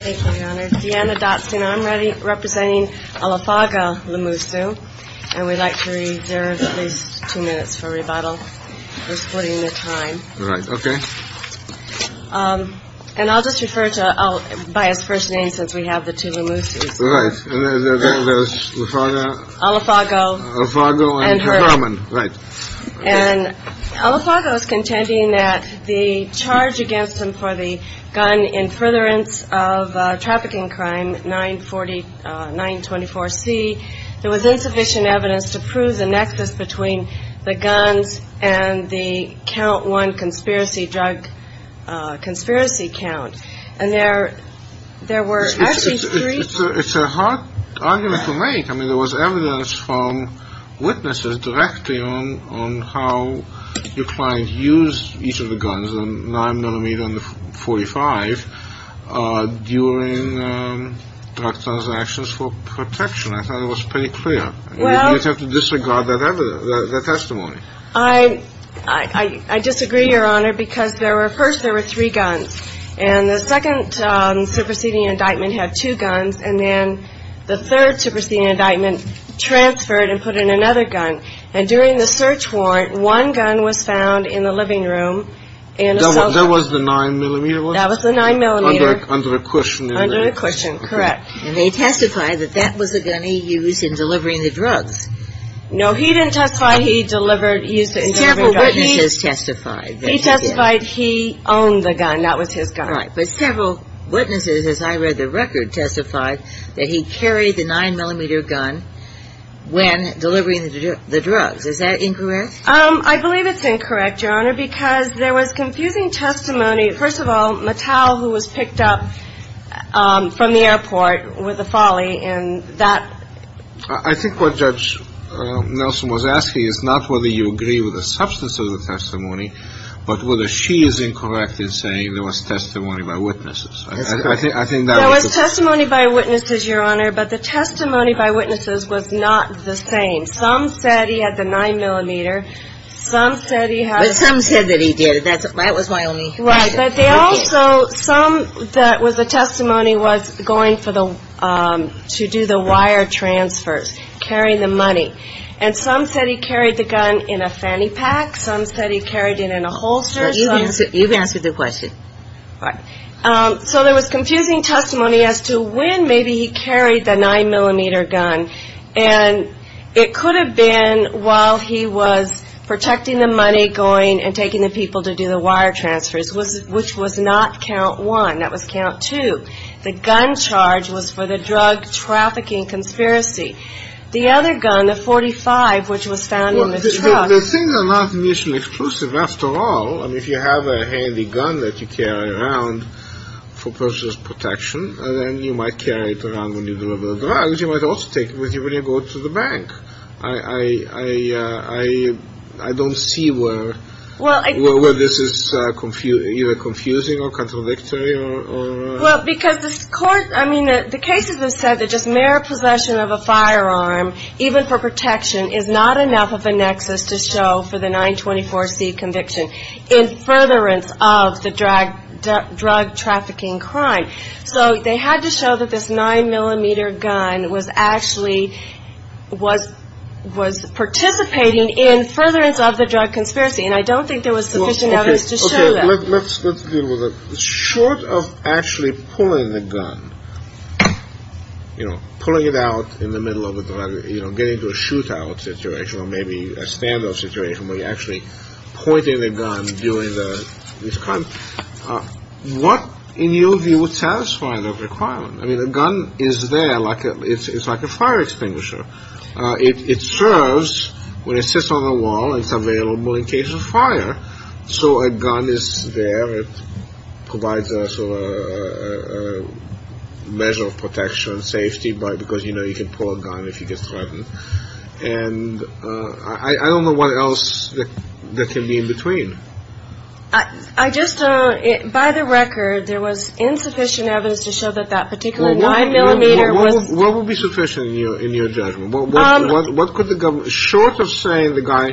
Thank you, Your Honor. Deanna Dotson, I'm representing Olifago Lemusu, and we'd like to reserve at least two minutes for rebuttal, for splitting the time. Right. OK. And I'll just refer to by his first name since we have the two Lemusus. Right. Olifago. Olifago and Herman. Right. And Olifago is contending that the charge against him for the gun in furtherance of trafficking crime 940 924 C. There was insufficient evidence to prove the nexus between the guns and the count one conspiracy drug conspiracy count. And there there were actually three. It's a hard argument to make. I mean, there was evidence from witnesses directly on how your client used each of the guns and nine millimeter and 45 during transactions for protection. I thought it was pretty clear. Well, you have to disregard that testimony. I, I, I disagree, Your Honor, because there were first there were three guns and the second superseding indictment had two guns. And then the third superseding indictment transferred and put in another gun. And during the search warrant, one gun was found in the living room. And there was the nine millimeter. That was the nine millimeter under the cushion under the cushion. Correct. And they testified that that was a gun he used in delivering the drugs. No, he didn't testify. He delivered. He used to testify. He testified he owned the gun. That was his guy. But several witnesses, as I read the record, testified that he carried the nine millimeter gun when delivering the drugs. Is that incorrect? I believe it's incorrect, Your Honor, because there was confusing testimony. First of all, Mattel, who was picked up from the airport with a folly. And that I think what Judge Nelson was asking is not whether you agree with the substance of the testimony, but whether she is incorrect in saying there was testimony by witnesses. I think there was testimony by witnesses, Your Honor, but the testimony by witnesses was not the same. Some said he had the nine millimeter. Some said he had some said that he did. That was my only. Right. But they also some that was the testimony was going for the to do the wire transfers, carrying the money. And some said he carried the gun in a fanny pack. Some said he carried it in a holster. You've answered the question. So there was confusing testimony as to when maybe he carried the nine millimeter gun. And it could have been while he was protecting the money going and taking the people to do the wire transfers, which was not count one. That was count two. The gun charge was for the drug trafficking conspiracy. The other gun, the 45, which was found in the truck. The things are not initially exclusive. After all, if you have a handy gun that you carry around for personal protection, then you might carry it around when you deliver the drugs. You might also take it with you when you go to the bank. I, I, I, I, I don't see where, well, where this is confused, either confusing or contradictory or. Well, because this court I mean, the cases have said that just mere possession of a firearm, even for protection, is not enough of a nexus to show for the 924 C conviction in furtherance of the drug drug trafficking crime. So they had to show that this nine millimeter gun was actually was was participating in furtherance of the drug conspiracy. And I don't think there was sufficient evidence to show that. Let's let's deal with it. Short of actually pulling the gun, you know, pulling it out in the middle of, you know, getting to a shootout situation or maybe a standoff situation where you actually pointed a gun during the crime. What, in your view, would satisfy the requirement? I mean, the gun is there like it's like a fire extinguisher. It serves when it sits on the wall and it's available in case of fire. So a gun is there. It provides us a measure of protection and safety because, you know, you can pull a gun if you get threatened. And I don't know what else that can be in between. I just don't. By the record, there was insufficient evidence to show that that particular one millimeter was. What would be sufficient in your in your judgment? What could the government short of saying the guy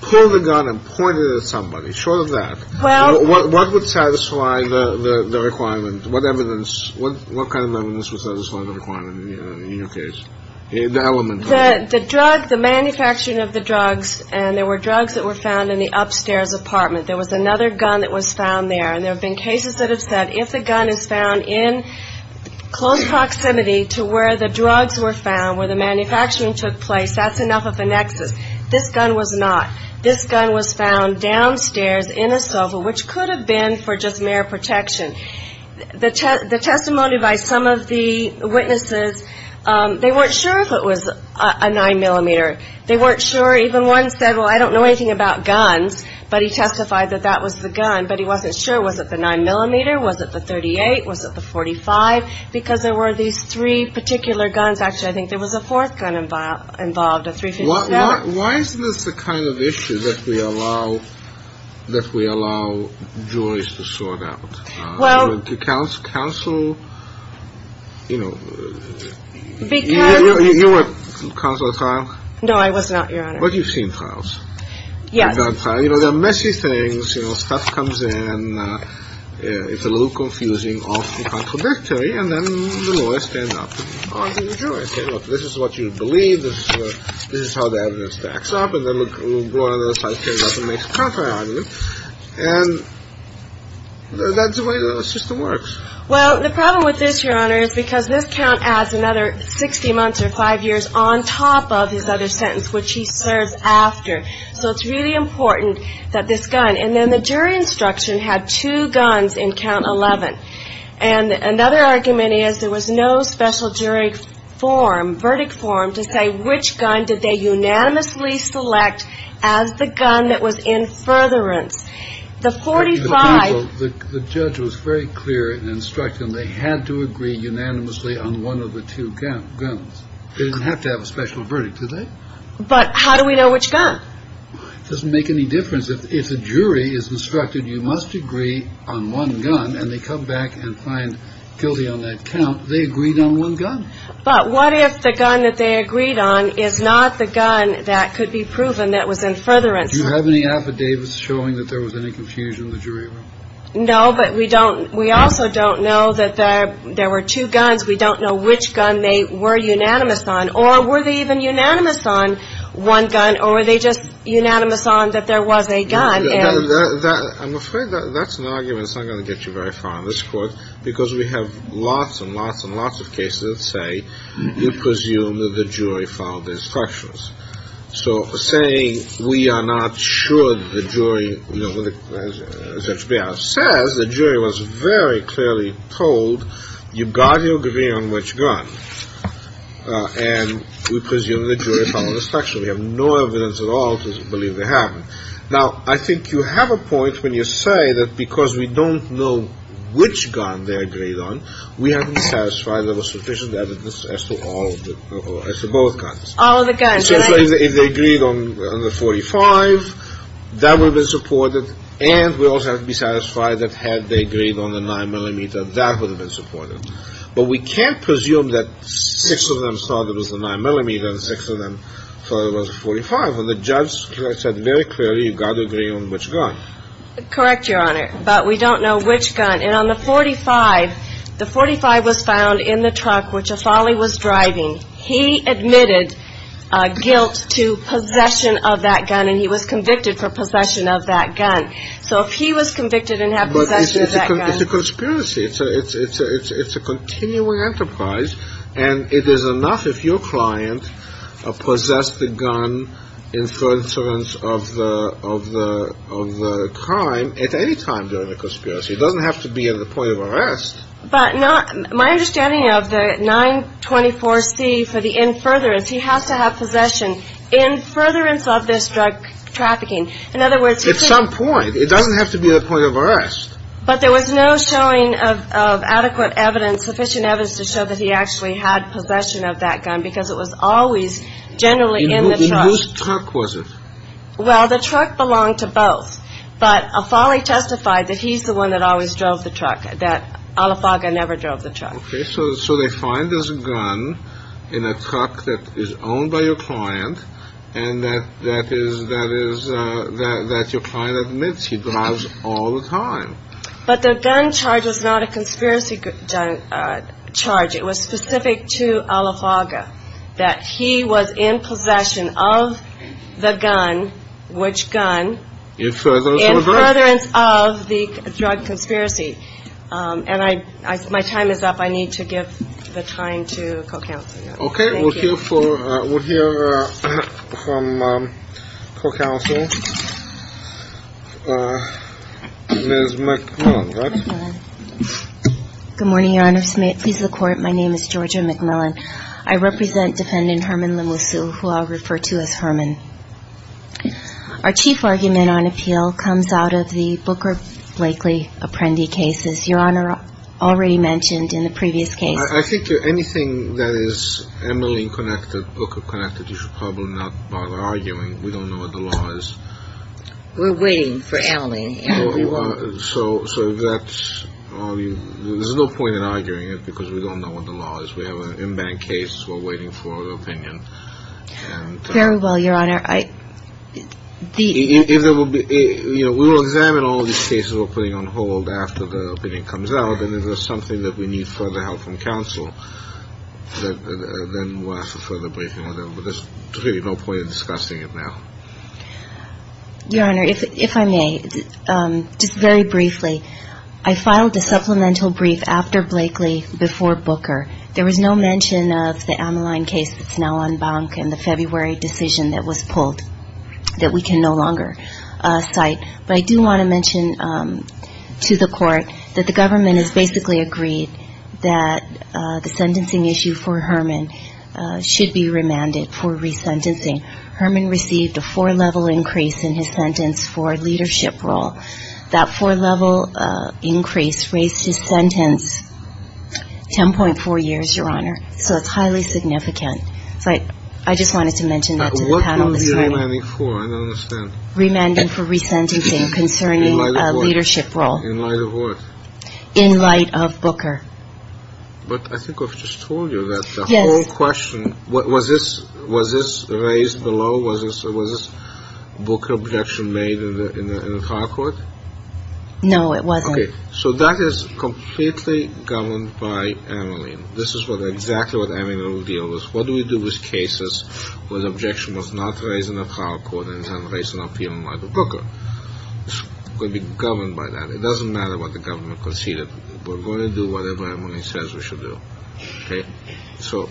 pull the gun and point it at somebody? Short of that. Well, what would satisfy the requirement? What evidence? What kind of evidence would satisfy the requirement in your case? The element that the drug, the manufacturing of the drugs and there were drugs that were found in the upstairs apartment. There was another gun that was found there. And there have been cases that have said if the gun is found in close proximity to where the drugs were found, where the manufacturing took place, that's enough of a nexus. This gun was not. This gun was found downstairs in a sofa, which could have been for just mere protection. The the testimony by some of the witnesses, they weren't sure if it was a nine millimeter. They weren't sure. Even one said, well, I don't know anything about guns, but he testified that that was the gun. But he wasn't sure. Was it the nine millimeter? Was it the 38? Was it the 45? Because there were these three particular guns. Actually, I think there was a fourth gun involved involved, a three. Why is this the kind of issue that we allow, that we allow juries to sort out? Well, to counsel counsel, you know, because you were consular trial. No, I was not. But you've seen trials. Yes. You know, the messy things, you know, stuff comes in. It's a little confusing, often contradictory. And then the lawyers stand up. This is what you believe. This is how the evidence backs up. And then we'll go on the other side. And that's the way the system works. Well, the problem with this, Your Honor, is because this count adds another 60 months or five years on top of his other sentence, which he serves after. So it's really important that this gun and then the jury instruction had two guns in count 11. And another argument is there was no special jury form verdict form to say which gun did they unanimously select as the gun that was in furtherance. The 45. The judge was very clear and instructing. They had to agree unanimously on one of the two guns. They didn't have to have a special verdict today. But how do we know which gun doesn't make any difference if a jury is instructed. You must agree on one gun and they come back and find guilty on that count. They agreed on one gun. But what if the gun that they agreed on is not the gun that could be proven that was in furtherance. Do you have any affidavits showing that there was any confusion in the jury? No, but we don't. We also don't know that there were two guns. We don't know which gun they were unanimous on or were they even unanimous on one gun or were they just unanimous on that? There was a gun. I'm afraid that's not going to get you very far on this court because we have lots and lots and lots of cases that say you presume that the jury followed the instructions. So saying we are not sure the jury says the jury was very clearly told you've got to agree on which gun. And we presume the jury followed the instruction. We have no evidence at all to believe they haven't. Now, I think you have a point when you say that because we don't know which gun they agreed on, we haven't satisfied there was sufficient evidence as to all or as to both guns. All of the guns. So if they agreed on the 45, that would have been supported. And we also have to be satisfied that had they agreed on the nine millimeter, that would have been supported. But we can't presume that six of them thought it was a nine millimeter and six of them thought it was a 45. And the judge said very clearly, you've got to agree on which gun. Correct, Your Honor. But we don't know which gun. And on the 45, the 45 was found in the truck which Afali was driving. He admitted guilt to possession of that gun and he was convicted for possession of that gun. So if he was convicted and have possession of that gun. But it's a conspiracy. It's a continuing enterprise. And it is enough if your client possessed the gun in coincidence of the crime at any time during the conspiracy. It doesn't have to be at the point of arrest. But my understanding of the 924 C for the in furtherance, he has to have possession in furtherance of this drug trafficking. In other words, at some point, it doesn't have to be the point of arrest. But there was no showing of adequate evidence, sufficient evidence to show that he actually had possession of that gun because it was always generally in the truck. Was it? Well, the truck belonged to both. But Afali testified that he's the one that always drove the truck, that Alifaga never drove the truck. OK, so so they find this gun in a truck that is owned by your client and that that is that is that your client admits he drives all the time. But the gun charge is not a conspiracy charge. It was specific to Alifaga that he was in possession of the gun, which gun in furtherance of the drug conspiracy. And I my time is up. I need to give the time to co-counsel. OK, we'll hear from co-counsel Ms. McMillan. Good morning, Your Honor. May it please the court. My name is Georgia McMillan. I represent defendant Herman Limusu, who I'll refer to as Herman. Our chief argument on appeal comes out of the Booker Blakely Apprendi cases, Your Honor, already mentioned in the previous case. I think anything that is Emily connected, Booker connected, you should probably not bother arguing. We don't know what the law is. We're waiting for Emily. So so that's all. There's no point in arguing it because we don't know what the law is. We have an in-bank case. We're waiting for an opinion. Very well, Your Honor. I think it will be. We will examine all these cases we're putting on hold after the opinion comes out. And if there's something that we need further help from counsel, then we'll ask for further briefing. But there's really no point in discussing it now. Your Honor, if I may. Just very briefly. I filed a supplemental brief after Blakely, before Booker. There was no mention of the Amaline case that's now on bank and the February decision that was pulled that we can no longer cite. But I do want to mention to the court that the government has basically agreed that the sentencing issue for Herman should be remanded for resentencing. Herman received a four level increase in his sentence for leadership role. That four level increase raised his sentence. Ten point four years, Your Honor. So it's highly significant. So I just wanted to mention that to the panel. Remanding for resentencing concerning leadership role in light of what? In light of Booker. But I think I've just told you that the whole question. What was this? Was this raised below? Was this a Booker objection made in the trial court? No, it wasn't. So that is completely governed by Amaline. This is what exactly what Amaline will deal with. What do we do with cases where the objection was not raised in the trial court and not raised in the appeal by Booker? Could be governed by that. It doesn't matter what the government conceded. We're going to do whatever Amaline says we should do. So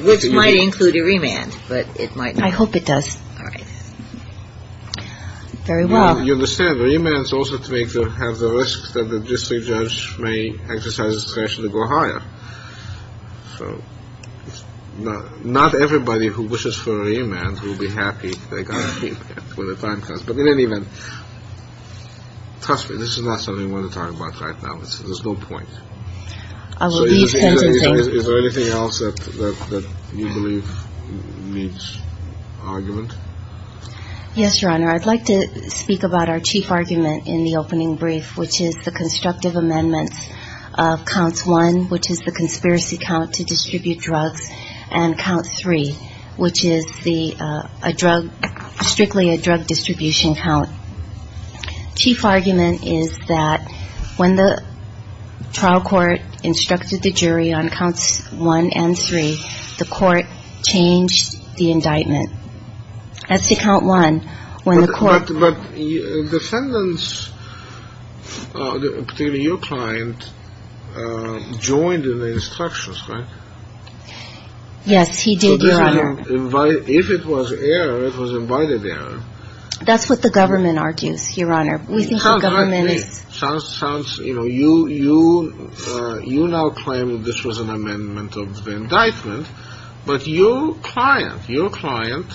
which might include a remand. But it might. I hope it does. Very well. You understand remand is also to have the risk that the district judge may exercise discretion to go higher. So not everybody who wishes for a remand will be happy. They got it when the time comes. But in any event, trust me, this is not something we want to talk about right now. There's no point. Is there anything else that you believe needs argument? Yes, your honor. I'd like to speak about our chief argument in the opening brief, which is the constructive amendments of counts one, which is the conspiracy count to distribute drugs and count three, which is the drug, strictly a drug distribution count. Chief argument is that when the trial court instructed the jury on counts one and three, the court changed the indictment. As to count one, when the court. But defendants, particularly your client, joined in the instructions, right? Yes, he did, your honor. If it was error, it was invited error. That's what the government argues, your honor. We think the government sounds, you know, you, you, you now claim that this was an amendment of the indictment. But your client, your client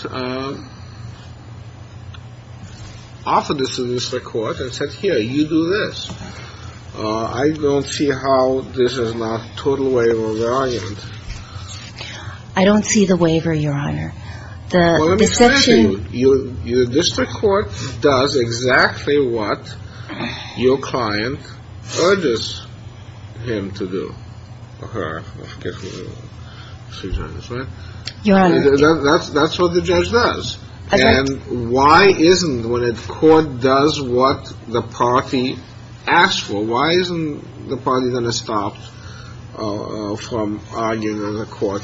offered this to the court and said, here, you do this. I don't see how this is not total waiver of the argument. I don't see the waiver. Your district court does exactly what your client urges him to do. That's that's what the judge does. And why isn't when a court does what the party asked for, why isn't the party going to stop from arguing in the court?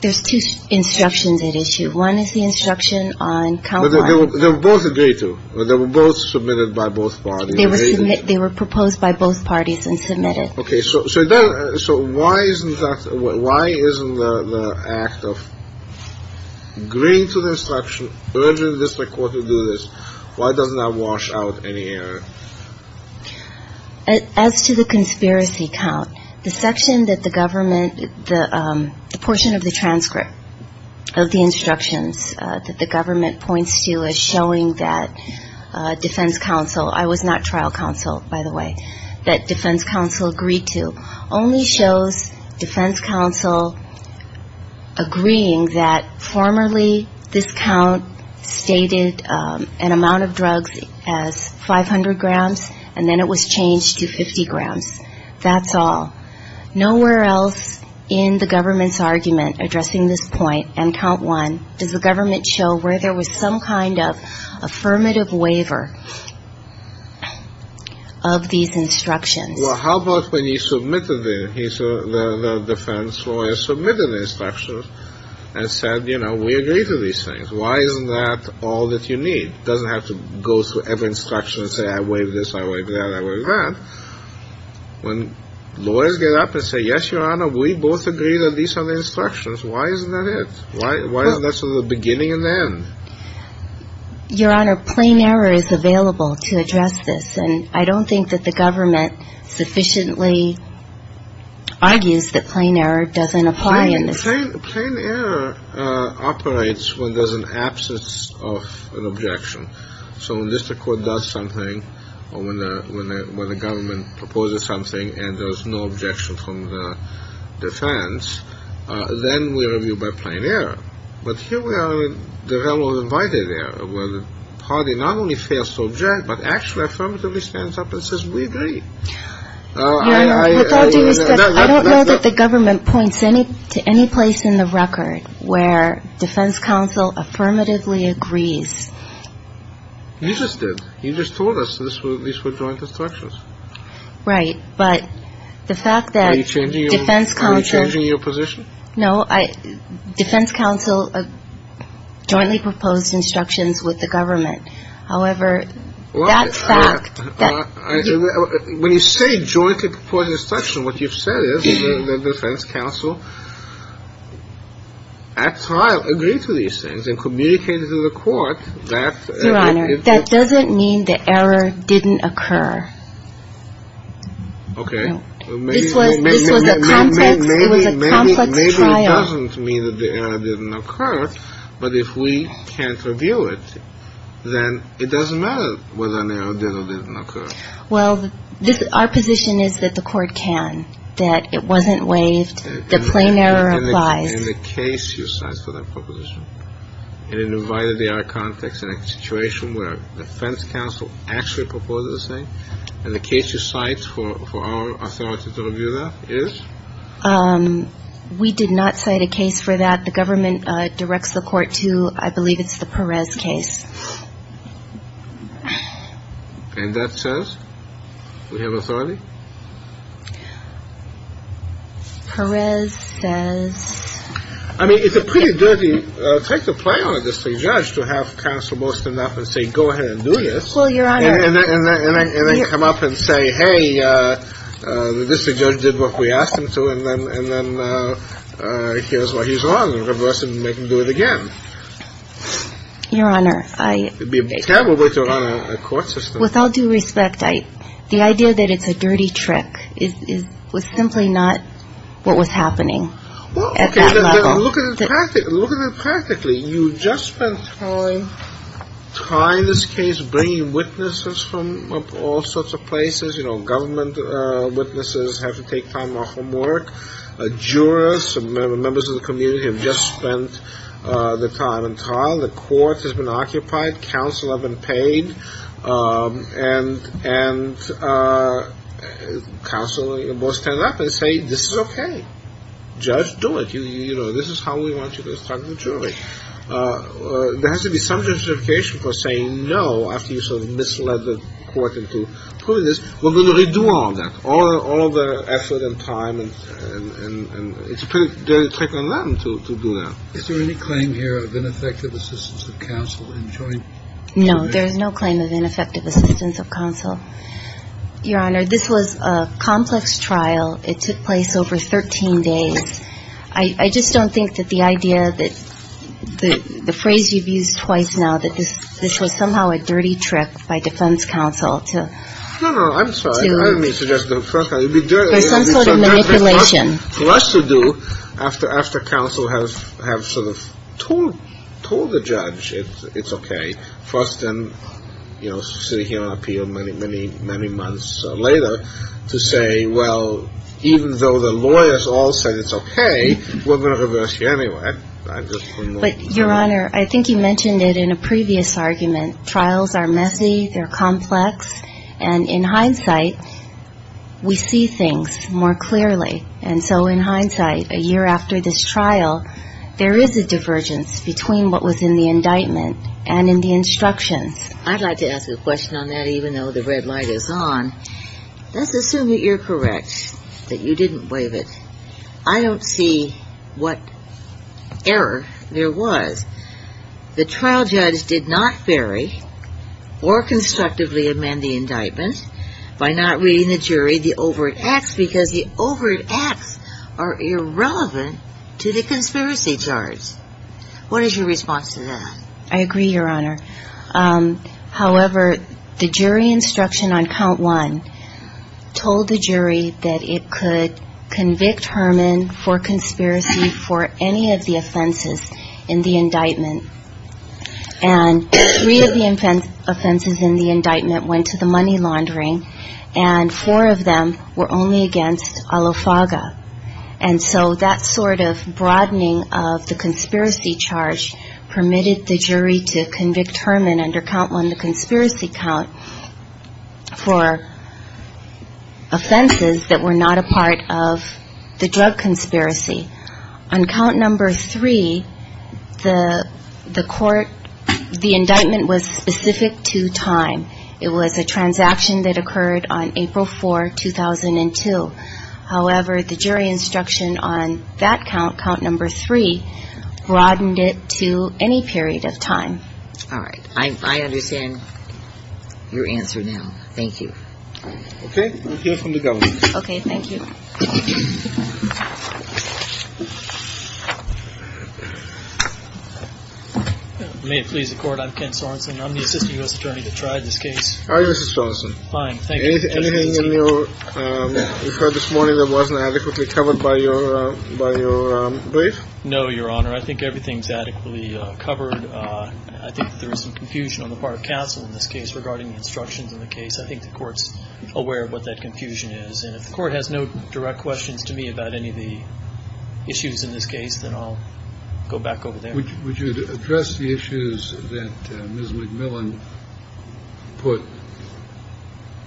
There's two instructions at issue. One is the instruction on. They were both agreed to. They were both submitted by both parties. They were they were proposed by both parties and submitted. OK, so. So then. So why isn't that. Why isn't the act of agreeing to the instruction urging the district court to do this? Why doesn't that wash out any error as to the conspiracy count? The section that the government, the portion of the transcript of the instructions that the government points to is showing that defense counsel. I was not trial counsel, by the way. That defense counsel agreed to only shows defense counsel agreeing that formerly this count stated an amount of drugs as five hundred grams. And then it was changed to 50 grams. That's all. Nowhere else in the government's argument addressing this point. And count one, does the government show where there was some kind of affirmative waiver of these instructions? Well, how about when you submitted the defense lawyers submitted the instructions and said, you know, we agree to these things. Why isn't that all that you need? Doesn't have to go through every instruction and say, I waive this. I like that. I like that. When lawyers get up and say, yes, your honor, we both agree that these are the instructions. Why isn't that it? Why? Why is this the beginning and then your honor? Plain error is available to address this. And I don't think that the government sufficiently argues that plain error doesn't apply in this. Plain error operates when there's an absence of an objection. So when the district court does something or when the government proposes something and there's no objection from the defense, then we review by plain error. But here we are in the realm of invited error where the party not only fails to object, but actually affirmatively stands up and says, we agree. I don't know that the government points any to any place in the record where defense counsel affirmatively agrees. You just did. You just told us this was joint instructions. Right. But the fact that you changing defense counsel changing your position. No, I defense counsel jointly proposed instructions with the government. However, that's fact. When you say jointly proposed instruction, what you've said is the defense counsel at trial agree to these things and communicated to the court that. Your honor, that doesn't mean the error didn't occur. OK. This was this was a complex. It was a complex trial. It doesn't mean that the error didn't occur. But if we can't review it, then it doesn't matter whether an error did or didn't occur. Well, this our position is that the court can that it wasn't waived. The plain error applies in the case you cite for that proposition. It invited the our context in a situation where the defense counsel actually proposed the same. And the case you cite for our authority to review that is we did not cite a case for that. The government directs the court to I believe it's the Perez case. And that says we have authority. Perez says, I mean, it's a pretty dirty. Take the play on the judge to have counsel most enough and say, go ahead and do this. Well, your honor, and then come up and say, hey, the district judge did what we asked him to. And then and then here's what he's wrong. Reverse it and make him do it again. Your honor, I would be a terrible way to run a court system with all due respect. The idea that it's a dirty trick is simply not what was happening. Well, look at it practically. You just spent time trying this case, bringing witnesses from all sorts of places. You know, government witnesses have to take time off from work. Jurors and members of the community have just spent the time. The court has been occupied. Counsel have been paid. And counsel both stand up and say, this is okay. Judge, do it. You know, this is how we want you to start the jury. There has to be some justification for saying no after you sort of misled the court into doing this. Well, then they do all that, all the effort and time. And it's a pretty dirty trick on them to do that. Is there any claim here of ineffective assistance of counsel in joining? No, there is no claim of ineffective assistance of counsel. Your honor, this was a complex trial. It took place over 13 days. I just don't think that the idea that the phrase you've used twice now, that this was somehow a dirty trick by defense counsel to No, no, I'm sorry. I didn't mean to suggest a dirty trick. There's some sort of manipulation. For us to do after counsel have sort of told the judge it's okay. For us to sit here and appeal many, many months later to say, well, even though the lawyers all said it's okay, we're going to reverse you anyway. But, your honor, I think you mentioned it in a previous argument. Trials are messy. They're complex. And in hindsight, we see things more clearly. And so in hindsight, a year after this trial, there is a divergence between what was in the indictment and in the instructions. I'd like to ask a question on that, even though the red light is on. Let's assume that you're correct, that you didn't waive it. I don't see what error there was. The trial judge did not bury or constructively amend the indictment by not reading the jury the overt acts because the overt acts are irrelevant to the conspiracy charge. What is your response to that? I agree, your honor. However, the jury instruction on count one told the jury that it could convict Herman for conspiracy for any of the offenses in the indictment. And three of the offenses in the indictment went to the money laundering. And four of them were only against Alofaga. And so that sort of broadening of the conspiracy charge permitted the jury to convict Herman under count one, the conspiracy count for offenses that were not a part of the drug conspiracy. On count number three, the court, the indictment was specific to time. It was a transaction that occurred on April 4, 2002. However, the jury instruction on that count, count number three, broadened it to any period of time. All right. I understand your answer now. Thank you. Okay. We'll hear from the government. Okay. Thank you. May it please the court. I'm Ken Sorensen. I'm the assistant U.S. attorney that tried this case. Hi, Mr. Sorensen. Fine. Thank you. Anything in your report this morning that wasn't adequately covered by your brief? No, Your Honor. I think everything's adequately covered. I think there is some confusion on the part of counsel in this case regarding the instructions in the case. I think the court's aware of what that confusion is. And if the court has no direct questions to me about any of the issues in this case, then I'll go back over there. Would you address the issues that Ms. McMillan put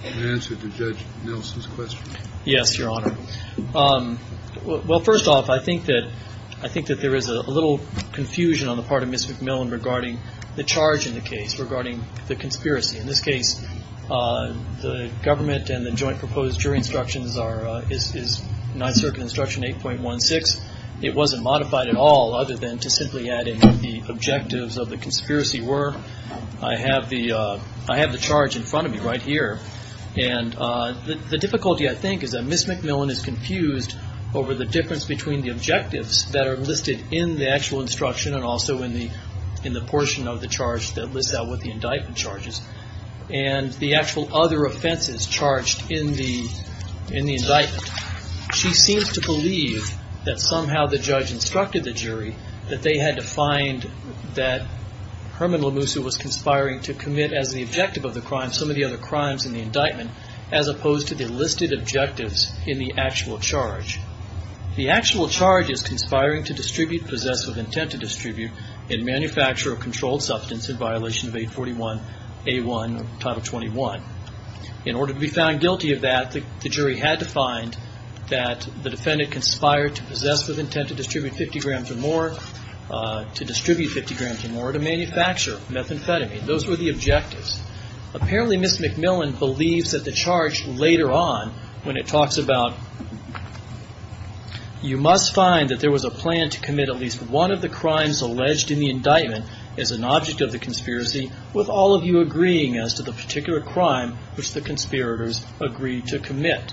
in answer to Judge Nelson's question? Yes, Your Honor. Well, first off, I think that there is a little confusion on the part of Ms. McMillan regarding the charge in the case regarding the conspiracy. In this case, the government and the joint proposed jury instructions is Ninth Circuit Instruction 8.16. It wasn't modified at all other than to simply add in what the objectives of the conspiracy were. I have the charge in front of me right here. And the difficulty, I think, is that Ms. McMillan is confused over the difference between the objectives that are listed in the actual instruction and also in the portion of the charge that lists out what the indictment charges and the actual other offenses charged in the indictment. She seems to believe that somehow the judge instructed the jury that they had to find that Herman Lemusa was conspiring to commit, as the objective of the crime, some of the other crimes in the indictment, as opposed to the listed objectives in the actual charge. The actual charge is conspiring to distribute possessive intent to distribute and manufacture a controlled substance in violation of 841A1 of Title 21. In order to be found guilty of that, the jury had to find that the defendant conspired to possessive intent to distribute 50 grams or more, to distribute 50 grams or more, to manufacture methamphetamine. Those were the objectives. Apparently, Ms. McMillan believes that the charge later on, when it talks about, you must find that there was a plan to commit at least one of the crimes alleged in the indictment as an object of the conspiracy, with all of you agreeing as to the particular crime which the conspirators agreed to commit.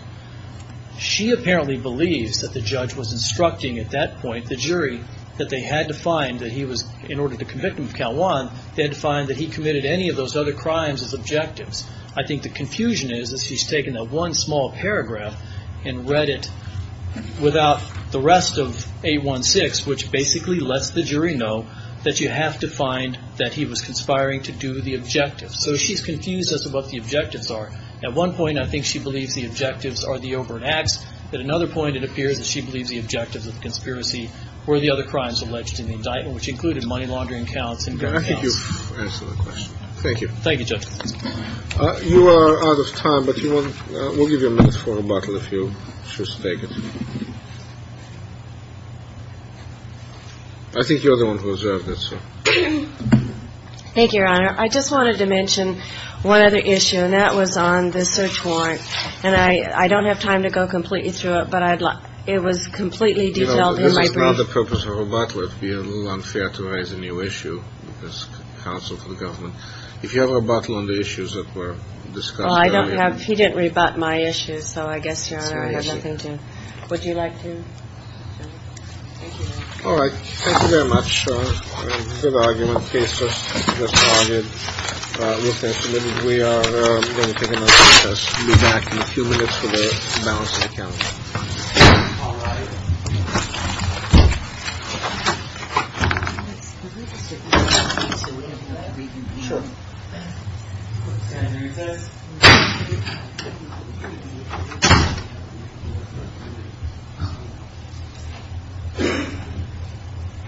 She apparently believes that the judge was instructing, at that point, the jury that they had to find that he was, in order to convict him of Count 1, they had to find that he committed any of those other crimes as objectives. I think the confusion is that she's taken that one small paragraph and read it without the rest of 816, which basically lets the jury know that you have to find that he was conspiring to do the objective. So she's confused as to what the objectives are. At one point, I think she believes the objectives are the overt acts. At another point, it appears that she believes the objectives of the conspiracy were the other crimes alleged in the indictment, which included money laundering counts and gun counts. I think you've answered the question. Thank you. Thank you, Judge. You are out of time, but we'll give you a minute for rebuttal if you choose to take it. I think you're the one who observed it, sir. Thank you, Your Honor. I just wanted to mention one other issue, and that was on the search warrant. And I don't have time to go completely through it, but it was completely developed in my brain. You know, this is not the purpose of rebuttal. It would be a little unfair to raise a new issue with this counsel for the government. If you have rebuttal on the issues that were discussed earlier. Well, I don't have. He didn't rebut my issue, so I guess, Your Honor, I have nothing to. Would you like to? All right. Thank you very much. Good argument. Case just argued. We are going to take another recess. We'll be back in a few minutes for the balance of the council. All right. Sure.